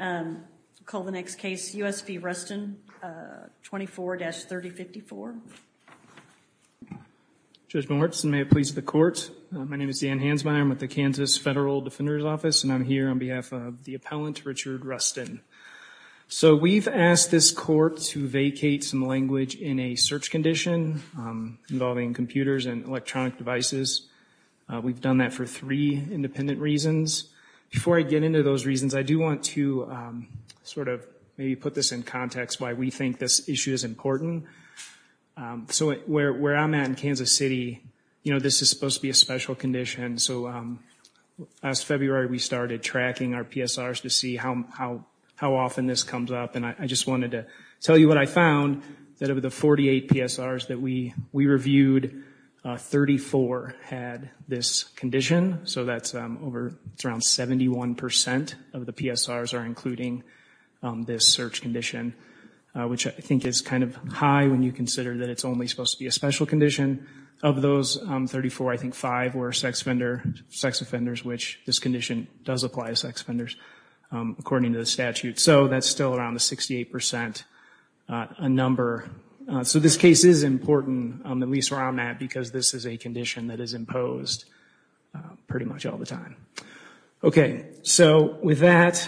24-3054. Judge Moritz, and may it please the Court, my name is Dan Hansmeyer, I'm with the Kansas Federal Defender's Office, and I'm here on behalf of the appellant, Richard Ruston. So we've asked this Court to vacate some language in a search condition involving computers and electronic devices. We've done that for three independent reasons. Before I get into those reasons, I do want to sort of maybe put this in context why we think this issue is important. So where I'm at in Kansas City, you know, this is supposed to be a special condition, so last February we started tracking our PSRs to see how often this comes up, and I just wanted to tell you what I found, that of the 48 PSRs that we reviewed, 34 had this condition, so that's around 71% of the PSRs are including this search condition, which I think is kind of high when you consider that it's only supposed to be a special condition. Of those, 34, I think five were sex offenders, which this condition does apply to sex offenders according to the statute. So that's still around 68% a number. So this case is important, at least where I'm at, because this is a condition that is imposed pretty much all the time. Okay, so with that,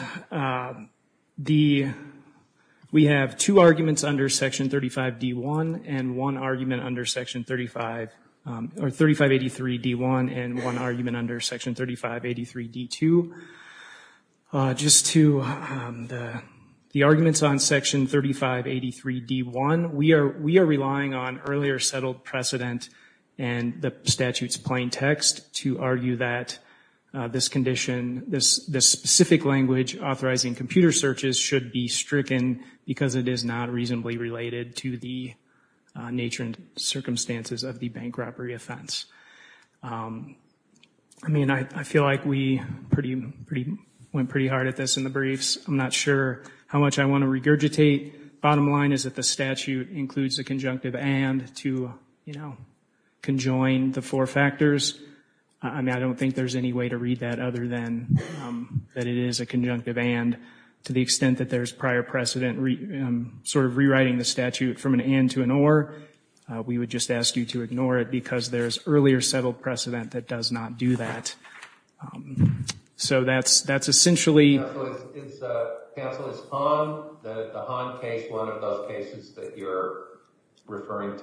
we have two arguments under Section 3583 D1 and one argument under Section 3583 D2. Just to the arguments on Section 3583 D1, we are relying on earlier settled precedent and the statute's plain text to argue that this condition, this specific language authorizing computer searches should be stricken because it is not reasonably related to the nature and circumstances of the bank robbery offense. I mean, I feel like we went pretty hard at this in the briefs. I'm not sure how much I want to regurgitate. Bottom line is that the statute includes a conjunctive and to, you know, conjoin the four factors. I mean, I don't think there's any way to read that other than that it is a conjunctive and to the extent that there's prior precedent sort of rewriting the statute from an and to an or, we would just ask you to ignore it because there's earlier settled precedent that does not do that. So that's essentially... Counsel, is Han, the Han case, one of those cases that you're referring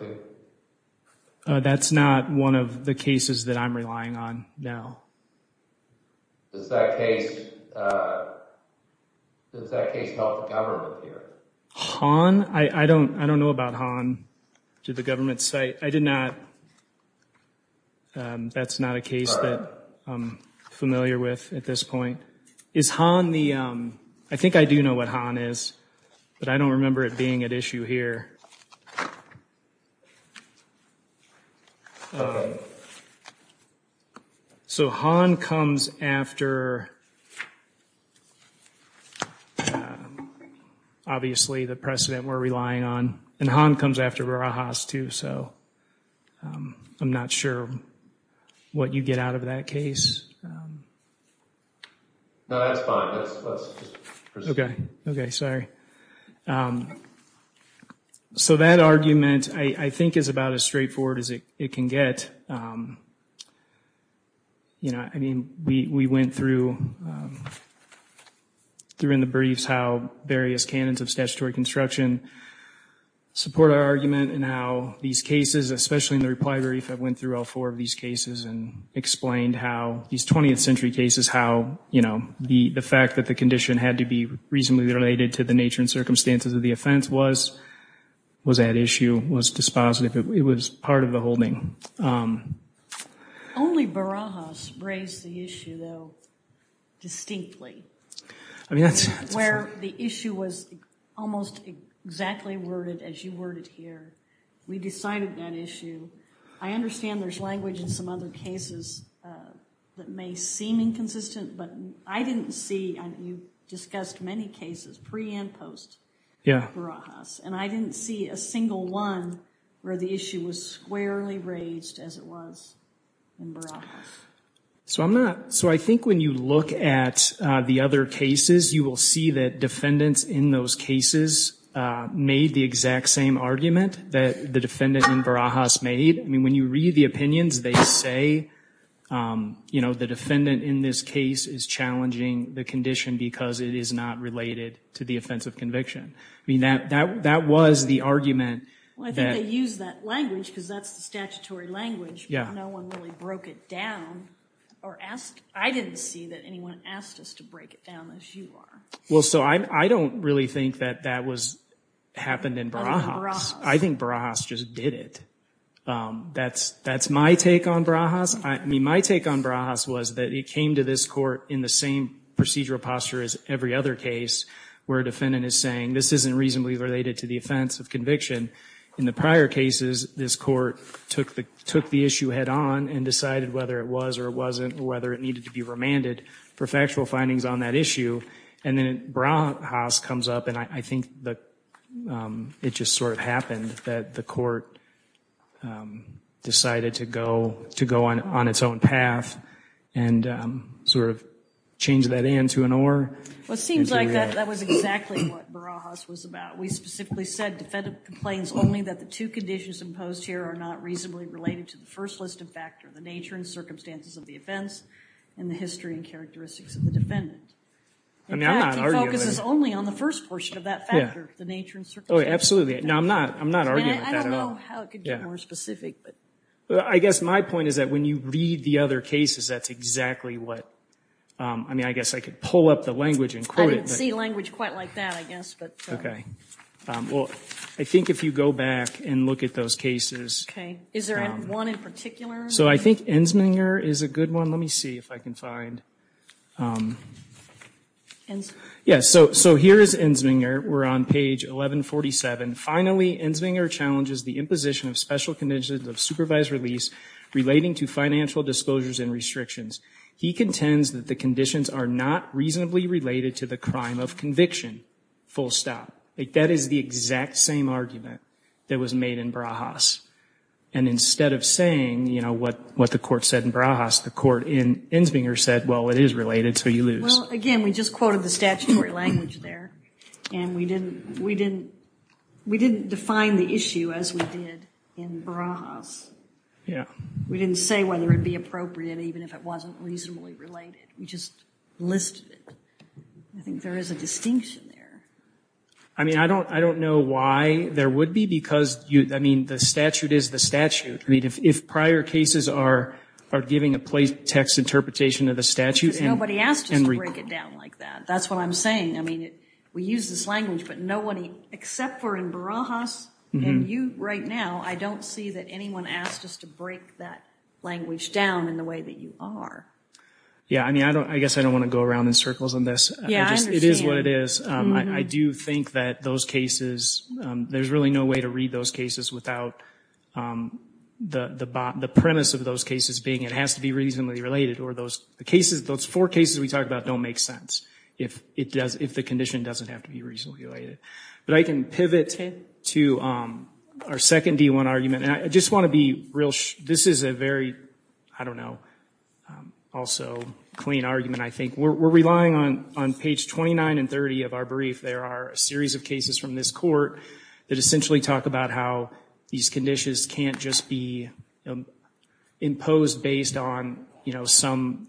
to? That's not one of the cases that I'm relying on now. Does that case help the government here? Han? I don't, I don't know about Han to the government site. I did not, that's not a case that I'm familiar with at this point. Is Han the, I think I do know what Han is, but I don't remember it being at issue here. Okay. So Han comes after, obviously, the precedent we're relying on, and Han comes after Barajas too, so I'm not sure what you get out of that case. No, that's fine, let's just proceed. Okay, okay, sorry. So that argument, I think, is about as straightforward as it can get. You know, I mean, we went through in the briefs how various canons of statutory construction support our argument and how these cases, especially in the reply brief, I went through all four of these cases and explained how these 20th century cases, how, you know, the fact that the condition had to be reasonably related to the nature and circumstances of the offense was, was at issue, was dispositive, it was part of the holding. Only Barajas raised the issue, though, distinctly, where the issue was almost exactly worded as you worded here. We decided that issue. I understand there's language in some other cases that may seem inconsistent, but I didn't see, and you discussed many cases pre and post Barajas, and I didn't see a single one where the issue was squarely raised as it was in Barajas. So I'm not, so I think when you look at the other cases, you will see that defendants in those cases made the exact same argument that the defendant in Barajas made. I mean, when you read the opinions, they say, you know, the defendant in this case is challenging the condition because it is not related to the offense of conviction. I mean, that, that, that was the argument that... Well, I think they used that language because that's the statutory language. Yeah. No one really broke it down or asked, I didn't see that anyone asked us to break it down as you are. Well, so I don't really think that that was, happened in Barajas. Barajas. I think Barajas just did it. That's my take on Barajas. I mean, my take on Barajas was that it came to this court in the same procedural posture as every other case where a defendant is saying, this isn't reasonably related to the offense of conviction. In the prior cases, this court took the issue head on and decided whether it was or it wasn't or whether it needed to be remanded for factual findings on that issue. And then Barajas comes up and I think that it just sort of happened that the court decided to go, to go on its own path and sort of change that in to an or. Well, it seems like that was exactly what Barajas was about. We specifically said, defendant complains only that the two conditions imposed here are not reasonably related to the first list of factors, the nature and circumstances of the offense and the history and characteristics of the defendant. I mean, I'm not arguing. In fact, he focuses only on the first portion of that factor, the nature and circumstances. Oh, absolutely. No, I'm not, I'm not arguing with that at all. And I don't know how it could get more specific, but. I guess my point is that when you read the other cases, that's exactly what, I mean, I guess I could pull up the language and quote it, but. I don't see language quite like that, I guess, but. Okay. Well, I think if you go back and look at those cases. Okay. Is there one in particular? So I think Enzminger is a good one. Let me see if I can find. Yeah, so here is Enzminger. We're on page 1147. Finally, Enzminger challenges the imposition of special conditions of supervised release relating to financial disclosures and restrictions. He contends that the conditions are not reasonably related to the crime of conviction. Full stop. That is the exact same argument that was made in Barajas. And instead of saying, you know, what the court said in Barajas, the court in Enzminger said, well, it is related, so you lose. Well, again, we just quoted the statutory language there. And we didn't define the issue as we did in Barajas. We didn't say whether it would be appropriate even if it wasn't reasonably related. We just listed it. I think there is a distinction there. I mean, I don't know why there would be because, I mean, the statute is the statute. I mean, if prior cases are giving a play text interpretation of the statute. Because nobody asked us to break it down like that. That's what I'm saying. I mean, we use this language, but nobody, except for in Barajas and you right now, I don't see that anyone asked us to break that language down in the way that you are. Yeah, I mean, I guess I don't want to go around in circles on this. Yeah, I understand. It is what it is. I do think that those cases, there is really no way to read those cases without the premise of those cases being it has to be reasonably related or those four cases we talked about don't make sense if the condition doesn't have to be reasonably related. But I can pivot to our second D1 argument. And I just want to be real, this is a very, I don't know, also clean argument, I think. We're relying on page 29 and 30 of our brief. There are a series of cases from this court that essentially talk about how these conditions can't just be imposed based on, you know, some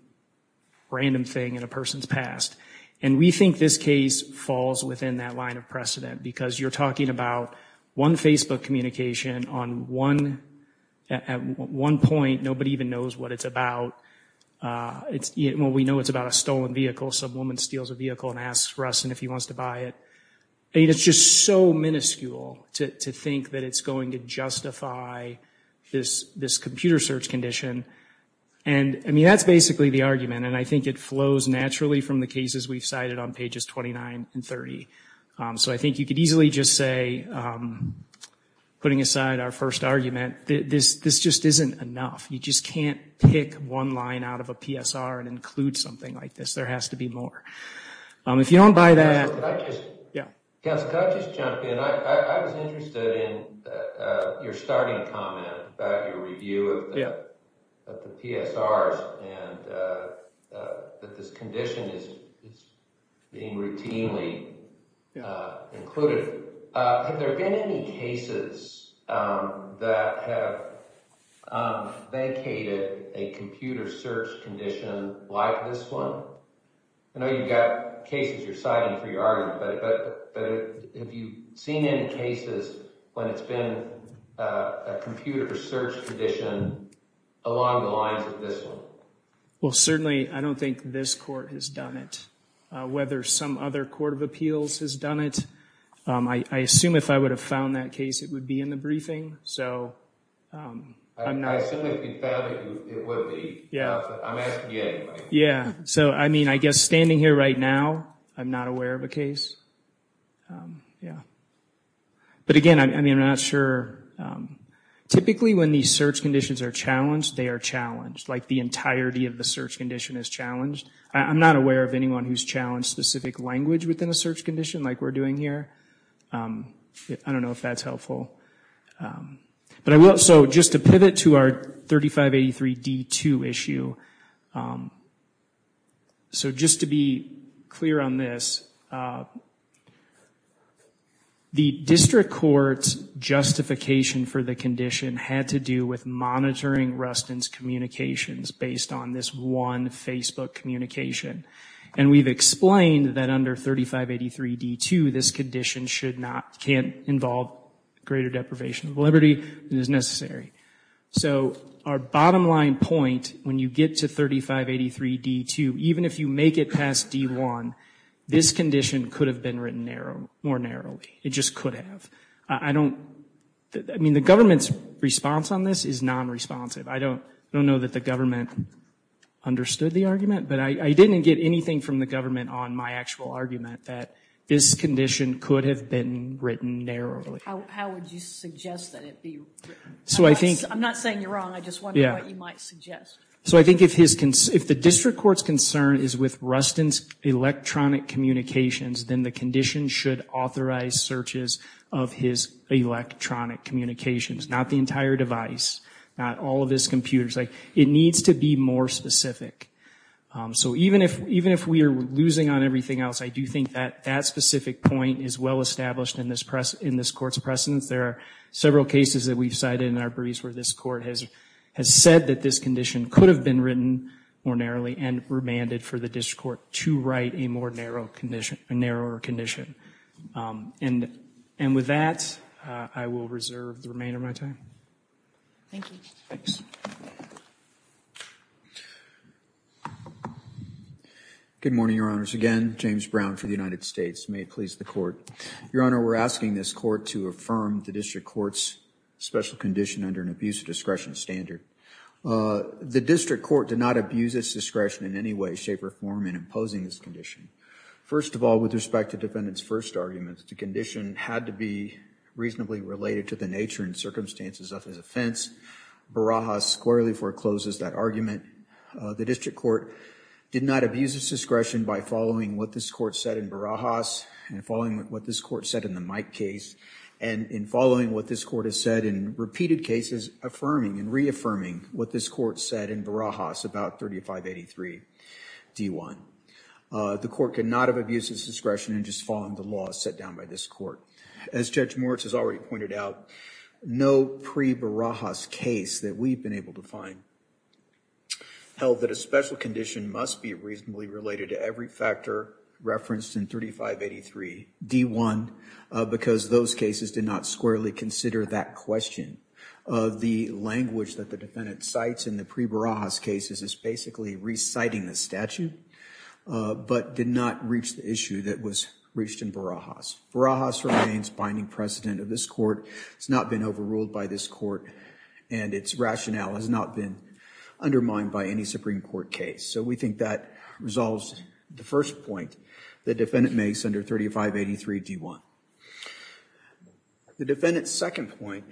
random thing in a person's past. And we think this case falls within that line of precedent. Because you're talking about one Facebook communication on one, at one point, nobody even knows what it's about. Well, we know it's about a stolen vehicle. Some woman steals a vehicle and asks Russin if he wants to buy it. And it's just so minuscule to think that it's going to justify this computer search condition. And, I mean, that's basically the argument. And I think it flows naturally from the cases we've cited on pages 29 and 30. So I think you could easily just say, putting aside our first argument, this just isn't enough. You just can't pick one line out of a PSR and include something like this. There has to be more. If you don't buy that... Can I just jump in? I was interested in your starting comment about your review of the PSRs and that this condition is being routinely included. Have there been any cases that have vacated a computer search condition like this one? I know you've got cases you're citing for your argument, but have you seen any cases when it's been a computer search condition along the lines of this one? Well, certainly, I don't think this court has done it. Whether some other court of appeals has done it, I assume if I would have found that case, it would be in the briefing. So I'm not... I assume if you found it, it would be. Yeah. I'm asking you anyway. Yeah. So, I mean, I guess standing here right now, I'm not aware of a case. Yeah. But, again, I mean, I'm not sure. Typically, when these search conditions are challenged, they are challenged. Like, the entirety of the search condition is challenged. I'm not aware of anyone who's challenged specific language within a search condition like we're doing here. I don't know if that's helpful. But I will... So just to pivot to our 3583D2 issue. So just to be clear on this, the district court's justification for the condition had to do with monitoring Rustin's communications based on this one Facebook communication. And we've explained that under 3583D2, this condition should not... can't involve greater deprivation of liberty than is necessary. So our bottom line point, when you get to 3583D2, even if you make it past D1, this condition could have been written more narrowly. It just could have. I don't... I mean, the government's response on this is non-responsive. I don't know that the government understood the argument. But I didn't get anything from the government on my actual argument that this condition could have been written narrowly. How would you suggest that it be written? I'm not saying you're wrong. I just wonder what you might suggest. So I think if the district court's concern is with Rustin's electronic communications, then the condition should authorize searches of his electronic communications. Not the entire device. Not all of his computers. It needs to be more specific. So even if we are losing on everything else, I do think that specific point is well established in this court's precedence. There are several cases that we've cited in our briefs where this court has said that this condition could have been written more narrowly and remanded for the district court to write a more narrow condition, a narrower condition. And with that, I will reserve the remainder of my time. Thank you. Thanks. Good morning, Your Honors. Again, James Brown for the United States. May it please the Court. Your Honor, we're asking this Court to affirm the district court's special condition under an abuse of discretion standard. The district court did not abuse its discretion in any way, shape, or form in imposing this condition. First of all, with respect to Defendant's first argument, the condition had to be reasonably related to the nature and circumstances of his offense. Barajas squarely forecloses that argument. The district court did not abuse its discretion by following what this court said in Barajas, and following what this court said in the Mike case, and in following what this court has said in repeated cases, affirming and reaffirming what this court said in Barajas about 3583 D1. The court could not have abused its discretion in just following the laws set down by this court. As Judge Moritz has already pointed out, no pre-Barajas case that we've been able to find held that a special condition must be reasonably related to every factor referenced in 3583 D1, because those cases did not squarely consider that question of the language that the defendant cites in the pre-Barajas cases as basically reciting the statute, but did not reach the issue that was reached in Barajas. Barajas remains binding precedent of this court. It's not been overruled by this court, and its rationale has not been undermined by any Supreme Court case. So we think that resolves the first point the defendant makes under 3583 D1. The defendant's second point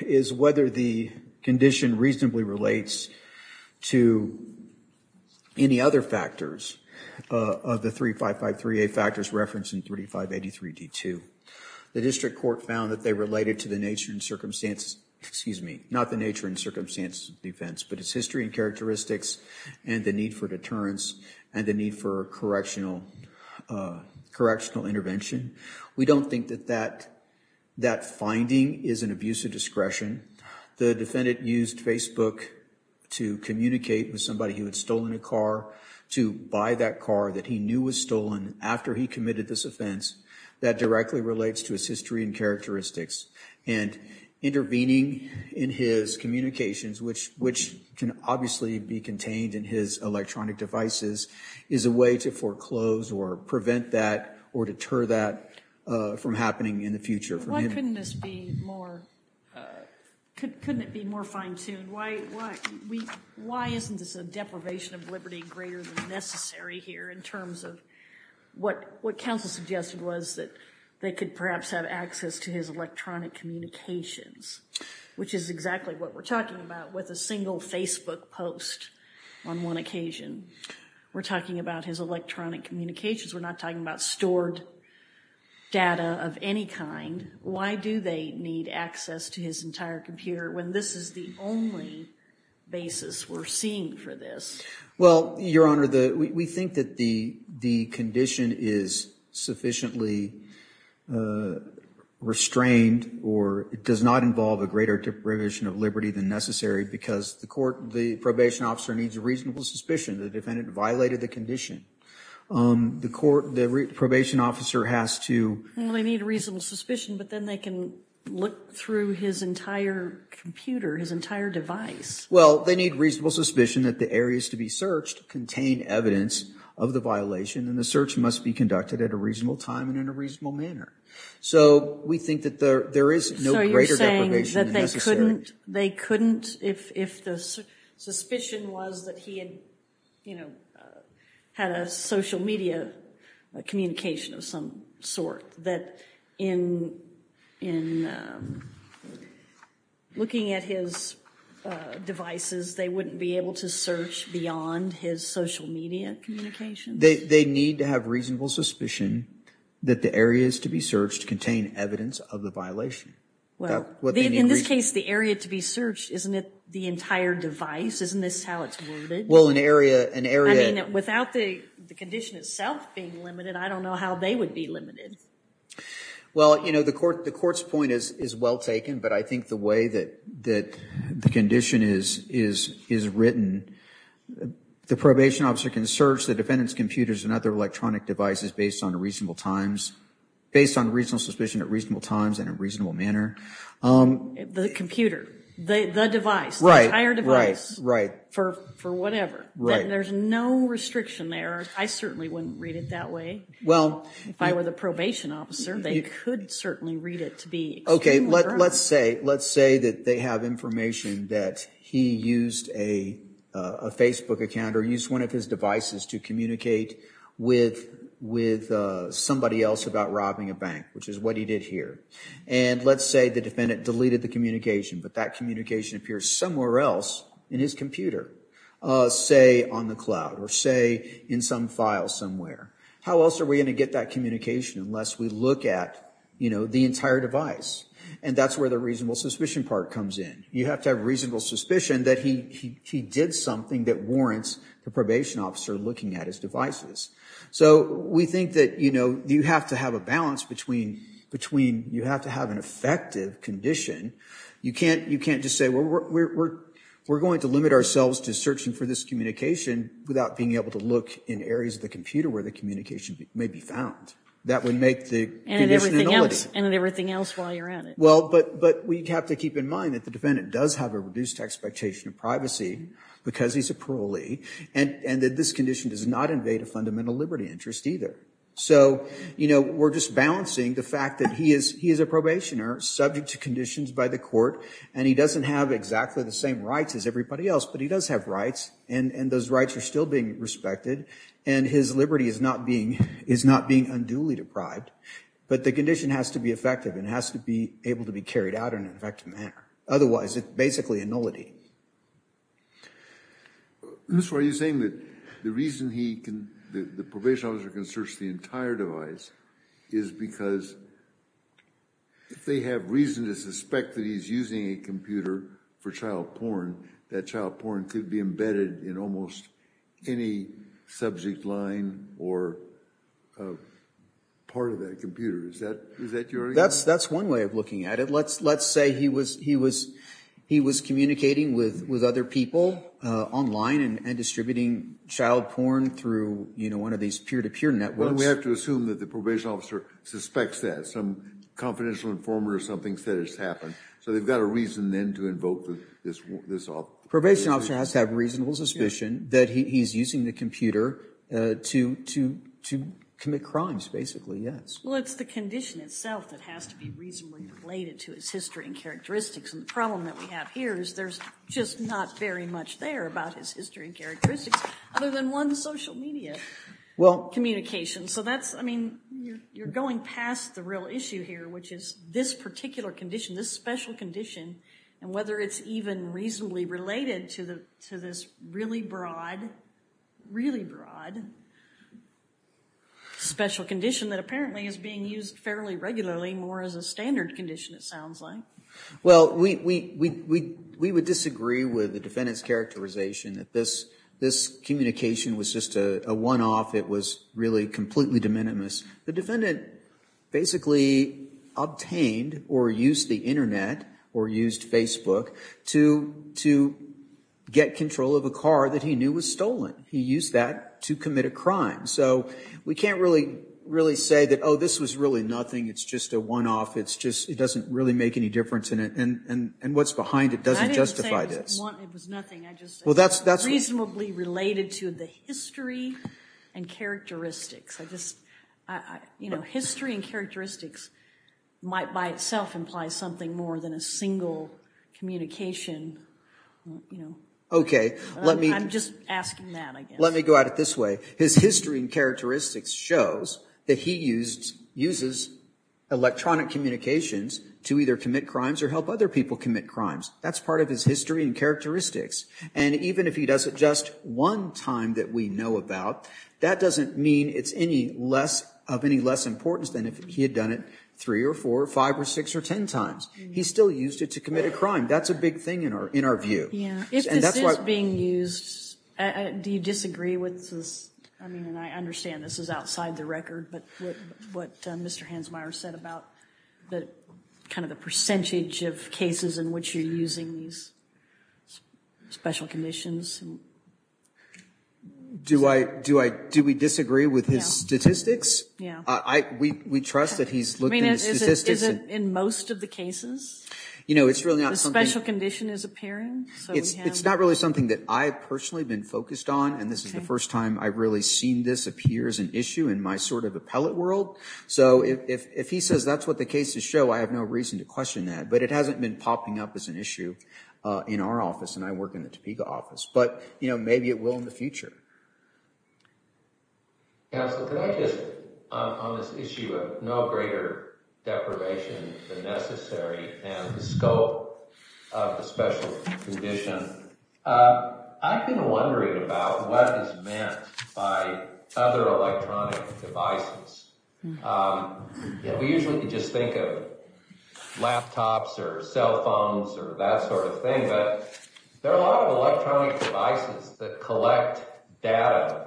is whether the condition reasonably relates to any other factors of the 3553A factors referenced in 3583 D2. The district court found that they related to the nature and circumstances, excuse me, not the nature and circumstances of the offense, but its history and characteristics and the need for deterrence and the need for correctional intervention. We don't think that that finding is an abuse of discretion. The defendant used Facebook to communicate with somebody who had stolen a car, to buy that car that he knew was stolen after he committed this offense, that directly relates to its history and characteristics. And intervening in his communications, which can obviously be contained in his electronic devices, is a way to foreclose or prevent that or deter that from happening in the future. Why couldn't this be more, couldn't it be more fine-tuned? Why isn't this a deprivation of liberty greater than necessary here in terms of what counsel suggested was that they could perhaps have access to his electronic communications, which is exactly what we're talking about with a single Facebook post on one occasion. We're talking about his electronic communications. We're not talking about stored data of any kind. Why do they need access to his entire computer when this is the only basis we're seeing for this? Well, Your Honor, we think that the condition is sufficiently restrained or it does not involve a greater deprivation of liberty than necessary because the court, the probation officer needs a reasonable suspicion that the defendant violated the condition. The court, the probation officer has to... They need a reasonable suspicion, but then they can look through his entire computer, his entire device. Well, they need reasonable suspicion that the areas to be searched contain evidence of the violation and the search must be conducted at a reasonable time and in a reasonable manner. So we think that there is no greater deprivation than necessary. So you're saying that they couldn't, if the suspicion was that he had, you know, had a social media communication of some sort, that in looking at his devices, they wouldn't be able to search beyond his social media communication? They need to have reasonable suspicion that the areas to be searched contain evidence of the violation. In this case, the area to be searched, isn't it the entire device? Isn't this how it's worded? Well, an area... I mean, without the condition itself being limited, I don't know how they would be limited. Well, you know, the court's point is well taken, but I think the way that the condition is written, the probation officer can search the defendant's computers and other electronic devices based on reasonable times, based on reasonable suspicion at reasonable times and in a reasonable manner. The computer, the device, the entire device. Right, right, right. For whatever. Right. There's no restriction there. I certainly wouldn't read it that way. Well... If I were the probation officer, they could certainly read it to be... Okay, let's say, let's say that they have information that he used a Facebook account or used one of his devices to communicate with somebody else about robbing a bank, which is what he did here. And let's say the defendant deleted the communication, but that communication appears somewhere else in his computer, say on the cloud or say in some file somewhere. How else are we going to get that communication unless we look at, you know, the entire device? And that's where the reasonable suspicion part comes in. You have to have reasonable suspicion that he did something that warrants the probation officer looking at his devices. So we think that, you know, you have to have a balance between, you have to have an effective condition. You can't just say, we're going to limit ourselves to searching for this communication without being able to look in areas of the computer where the communication may be found. That would make the condition ineligible. And everything else while you're at it. But we have to keep in mind that the defendant does have a reduced expectation of privacy because he's a parolee, and that this condition does not invade a fundamental liberty interest either. So, you know, we're just balancing the fact that he is a probationer subject to conditions by the court, and he doesn't have exactly the same rights as everybody else, but he does have rights, and those rights are still being respected, and his liberty is not being unduly deprived. But the condition has to be effective and has to be able to be carried out in an effective manner. Otherwise, it's basically a nullity. Mr. Roy, you're saying that the reason he can, the probation officer can search the entire device is because if they have reason to suspect that he's using a computer for child porn, that child porn could be embedded in almost any subject line or part of that computer. Is that your argument? That's one way of looking at it. Let's say he was communicating with other people online and distributing child porn through, you know, one of these peer-to-peer networks. Well, we have to assume that the probation officer suspects that. Some confidential informer or something said it's happened, so they've got a reason then to invoke this. Probation officer has to have reasonable suspicion that he's using the computer to commit crimes, basically, yes. Well, it's the condition itself that has to be reasonably related to his history and characteristics. And the problem that we have here is there's just not very much there about his history and characteristics other than one social media communication. So that's, I mean, you're going past the real issue here, which is this particular condition, this special condition, and whether it's even reasonably related to this really broad, really broad, special condition that apparently is being used fairly regularly more as a standard condition, it sounds like. Well, we would disagree with the defendant's characterization that this communication was just a one-off. It was really completely de minimis. The defendant basically obtained or used the internet or used Facebook to get control of a car that he knew was stolen. He used that to commit a crime. So we can't really say that, oh, this was really nothing. It's just a one-off. It doesn't really make any difference. And what's behind it doesn't justify this. I didn't say it was nothing. I just said it was reasonably related to the history and I just, you know, history and characteristics might by itself imply something more than a single communication, you know. Okay. I'm just asking that, I guess. Let me go at it this way. His history and characteristics shows that he uses electronic communications to either commit crimes or help other people commit crimes. That's part of his history and characteristics. And even if he does it just one time that we know about, that doesn't mean it's of any less importance than if he had done it three or four or five or six or ten times. He still used it to commit a crime. That's a big thing in our view. Yeah. If this is being used, do you disagree with this? I mean, and I understand this is outside the record, but what Mr. Hansmeier said about kind of the percentage of cases in which you're using these special conditions. Do we disagree with his statistics? Yeah. We trust that he's looked at his statistics. I mean, is it in most of the cases? You know, it's really not something. A special condition is appearing. It's not really something that I've personally been focused on. And this is the first time I've really seen this appear as an issue in my sort of appellate world. So if he says that's what the cases show, I have no reason to question that. But it hasn't been popping up as an issue in our office. And I work in the Topeka office. But, you know, maybe it will in the future. Counsel, could I just, on this issue of no greater deprivation than necessary and the scope of the special condition, I've been wondering about what is meant by other electronic devices. We usually just think of laptops or cell phones or that sort of thing, but there are a lot of electronic devices that collect data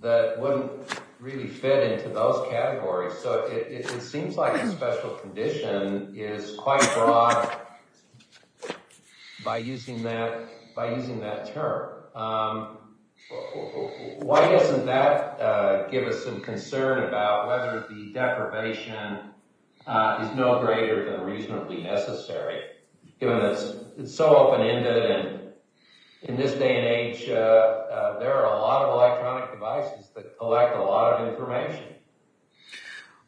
that wouldn't really fit into those categories. So it seems like the special condition is quite broad by using that term. Why doesn't that give us some concern about whether the deprivation is no greater than reasonably necessary, given that it's so open-ended and in this day and age there are a lot of electronic devices that collect a lot of information?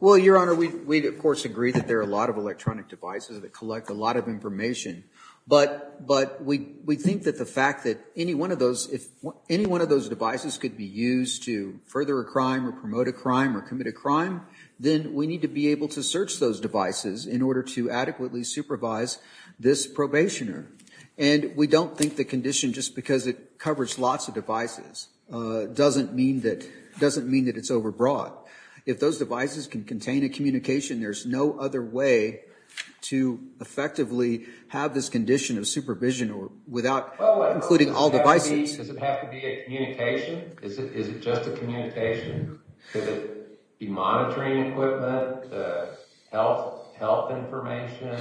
Well, Your Honor, we of course agree that there are a lot of electronic devices that collect a lot of information. But we think that the fact that any one of those devices could be used to further a crime or promote a crime or commit a crime, then we need to be able to search those devices in order to adequately supervise this probationer. And we don't think the condition, just because it has lots of devices, doesn't mean that it's overbroad. If those devices can contain a communication, there's no other way to effectively have this condition of supervision without including all devices. Does it have to be a communication? Is it just a communication? Could it be monitoring equipment, health information?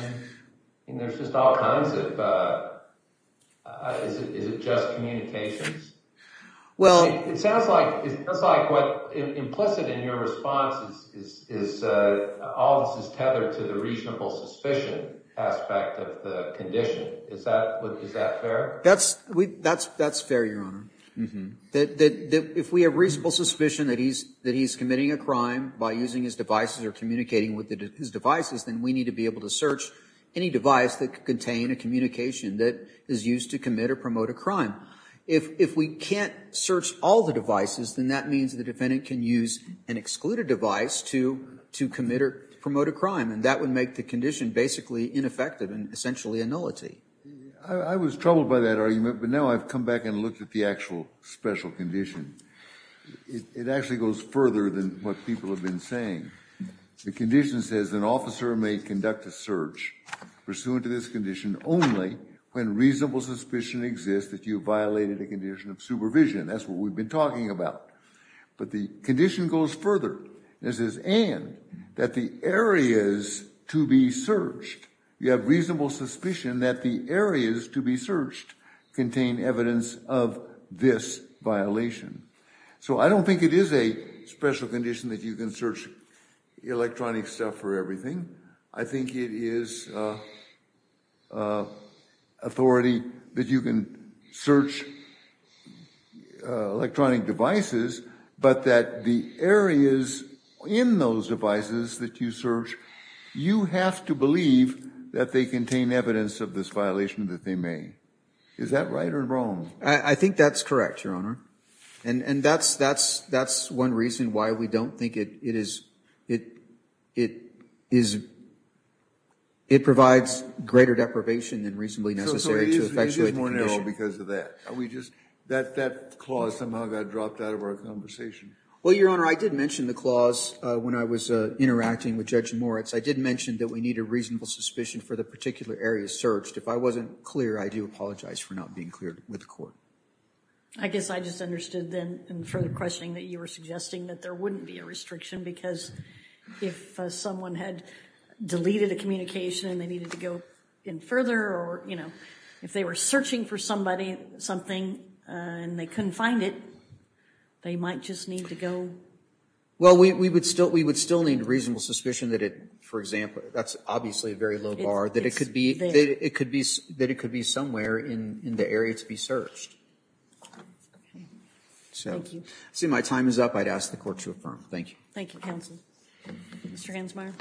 There's just all kinds of... Is it just communications? It sounds like what's implicit in your response is all this is tethered to the reasonable suspicion aspect of the condition. Is that fair? That's fair, Your Honor. If we have reasonable suspicion that he's committing a crime by using his devices or communicating with his devices, then we need to be able to search any device that could contain a communication that is used to commit or promote a If we can't search all the devices, then that means the defendant can use an excluded device to commit or promote a crime, and that would make the condition basically ineffective and essentially a nullity. I was troubled by that argument, but now I've come back and looked at the actual special condition. It actually goes further than what people have been saying. The condition says an officer may conduct a search pursuant to this condition only when reasonable suspicion exists that you violated a condition of supervision. That's what we've been talking about. But the condition goes further. It says and that the areas to be searched, you have reasonable suspicion that the areas to be searched contain evidence of this violation. So I don't think it is a special condition that you can search electronic stuff for everything. I think it is authority that you can search electronic devices, but that the areas in those devices that you search, you have to believe that they contain evidence of this violation that they made. Is that right or wrong? I think that's correct, Your Honor. And that's one reason why we don't think it is, it provides greater deprivation than reasonably necessary to effectuate the condition. So it is more narrow because of that. That clause somehow got dropped out of our conversation. Well, Your Honor, I did mention the clause when I was interacting with Judge Moritz. I did mention that we need a reasonable suspicion for the particular areas searched. If I wasn't clear, I do apologize for not being clear with the court. I guess I just understood then from the questioning that you were suggesting that there wouldn't be a restriction because if someone had deleted a communication and they needed to go in further or, you know, if they were searching for somebody, something, and they couldn't find it, they might just need to go. Well, we would still need a reasonable suspicion that it, for example, that's obviously a very low bar, that it could be somewhere in the area to be searched. So, seeing my time is up, I'd ask the court to affirm. Thank you. Thank you, counsel. Mr. Hansmeier.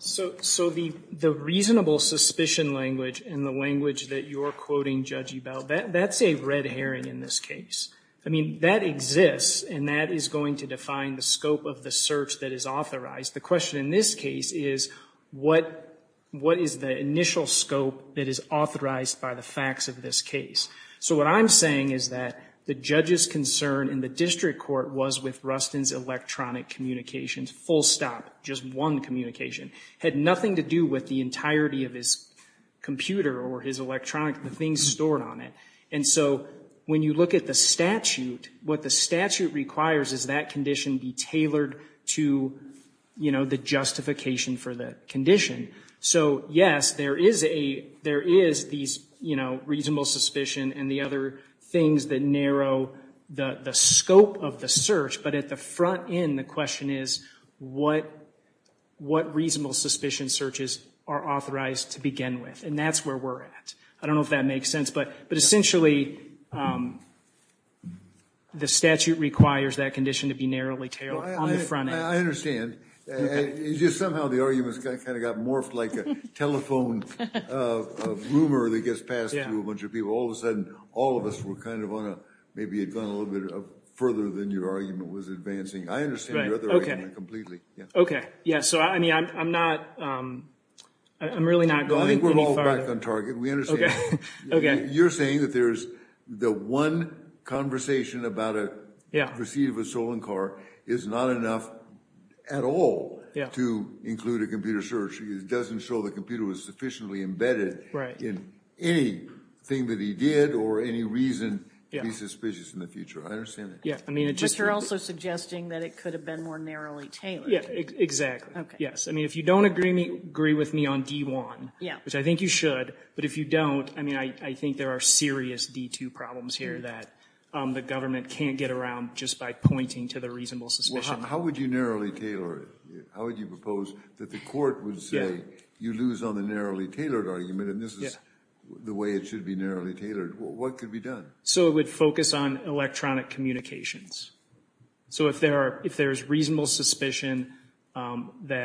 So the reasonable suspicion language and the language that you're quoting, Judge Ebel, that's a red herring in this case. I mean, that exists and that is going to define the scope of the search that is authorized. The question in this case is what is the initial scope that is authorized by the facts of this case? So what I'm saying is that the judge's concern in the district court was with Rustin's electronic communications, full stop, just one communication. It had nothing to do with the entirety of his computer or his electronic, the things stored on it. And so when you look at the statute, what the statute requires is that condition be tailored to, you know, the justification for that condition. So, yes, there is these, you know, reasonable suspicion and the other things that narrow the scope of the search, but at the front end, the question is what reasonable suspicion searches are authorized to begin with? And that's where we're at. I don't know if that makes sense, but essentially the statute requires that condition to be narrowly tailored on the front end. I understand. It's just somehow the arguments kind of got morphed like a telephone rumor that gets passed through a bunch of people. All of a sudden, all of us were kind of on a, maybe had gone a little bit further than your argument was advancing. I understand your other argument completely. Okay. Yeah. So, I mean, I'm not, I'm really not going any farther. I think we're all back on target. We understand. Okay. You're saying that there's the one conversation about a receipt of a stolen car is not enough at all to include a computer search. It doesn't show the computer was sufficiently embedded in anything that he did or any reason to be suspicious in the future. I understand that. But you're also suggesting that it could have been more narrowly tailored. Exactly. Yes. I mean, if you don't agree with me on D1, which I think you should, but if you don't, I mean I think there are serious D2 problems here that the government can't get around just by pointing to the reasonable suspicion. Well, how would you narrowly tailor it? How would you propose that the court would say, you lose on the narrowly tailored argument and this is the way it should be narrowly tailored. What could be done? So it would focus on electronic communications. So if there are, if there's reasonable suspicion, then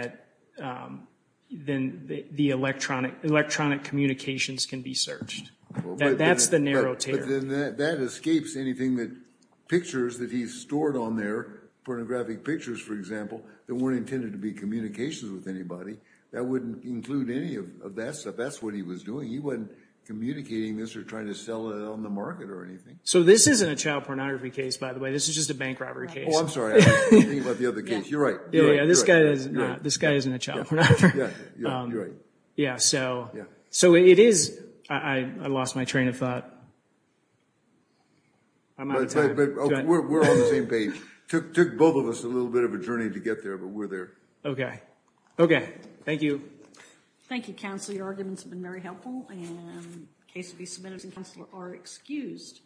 the electronic communications can be searched. That's the narrow tailor. But then that escapes anything that pictures that he's stored on there, pornographic pictures, for example, that weren't intended to be communications with anybody. That wouldn't include any of that stuff. That's what he was doing. He wasn't communicating this or trying to sell it on the market or anything. So this isn't a child pornography case, by the way. This is just a bank robbery case. Oh, I'm sorry. I was thinking about the other case. You're right. Yeah, this guy isn't a child pornographer. Yeah, you're right. Yeah, so it is. I lost my train of thought. I'm out of time. But we're on the same page. It took both of us a little bit of a journey to get there, but we're there. Okay. Okay. Thank you. Thank you, counsel. Your arguments have been very helpful. And the case will be submitted and counsel are excused.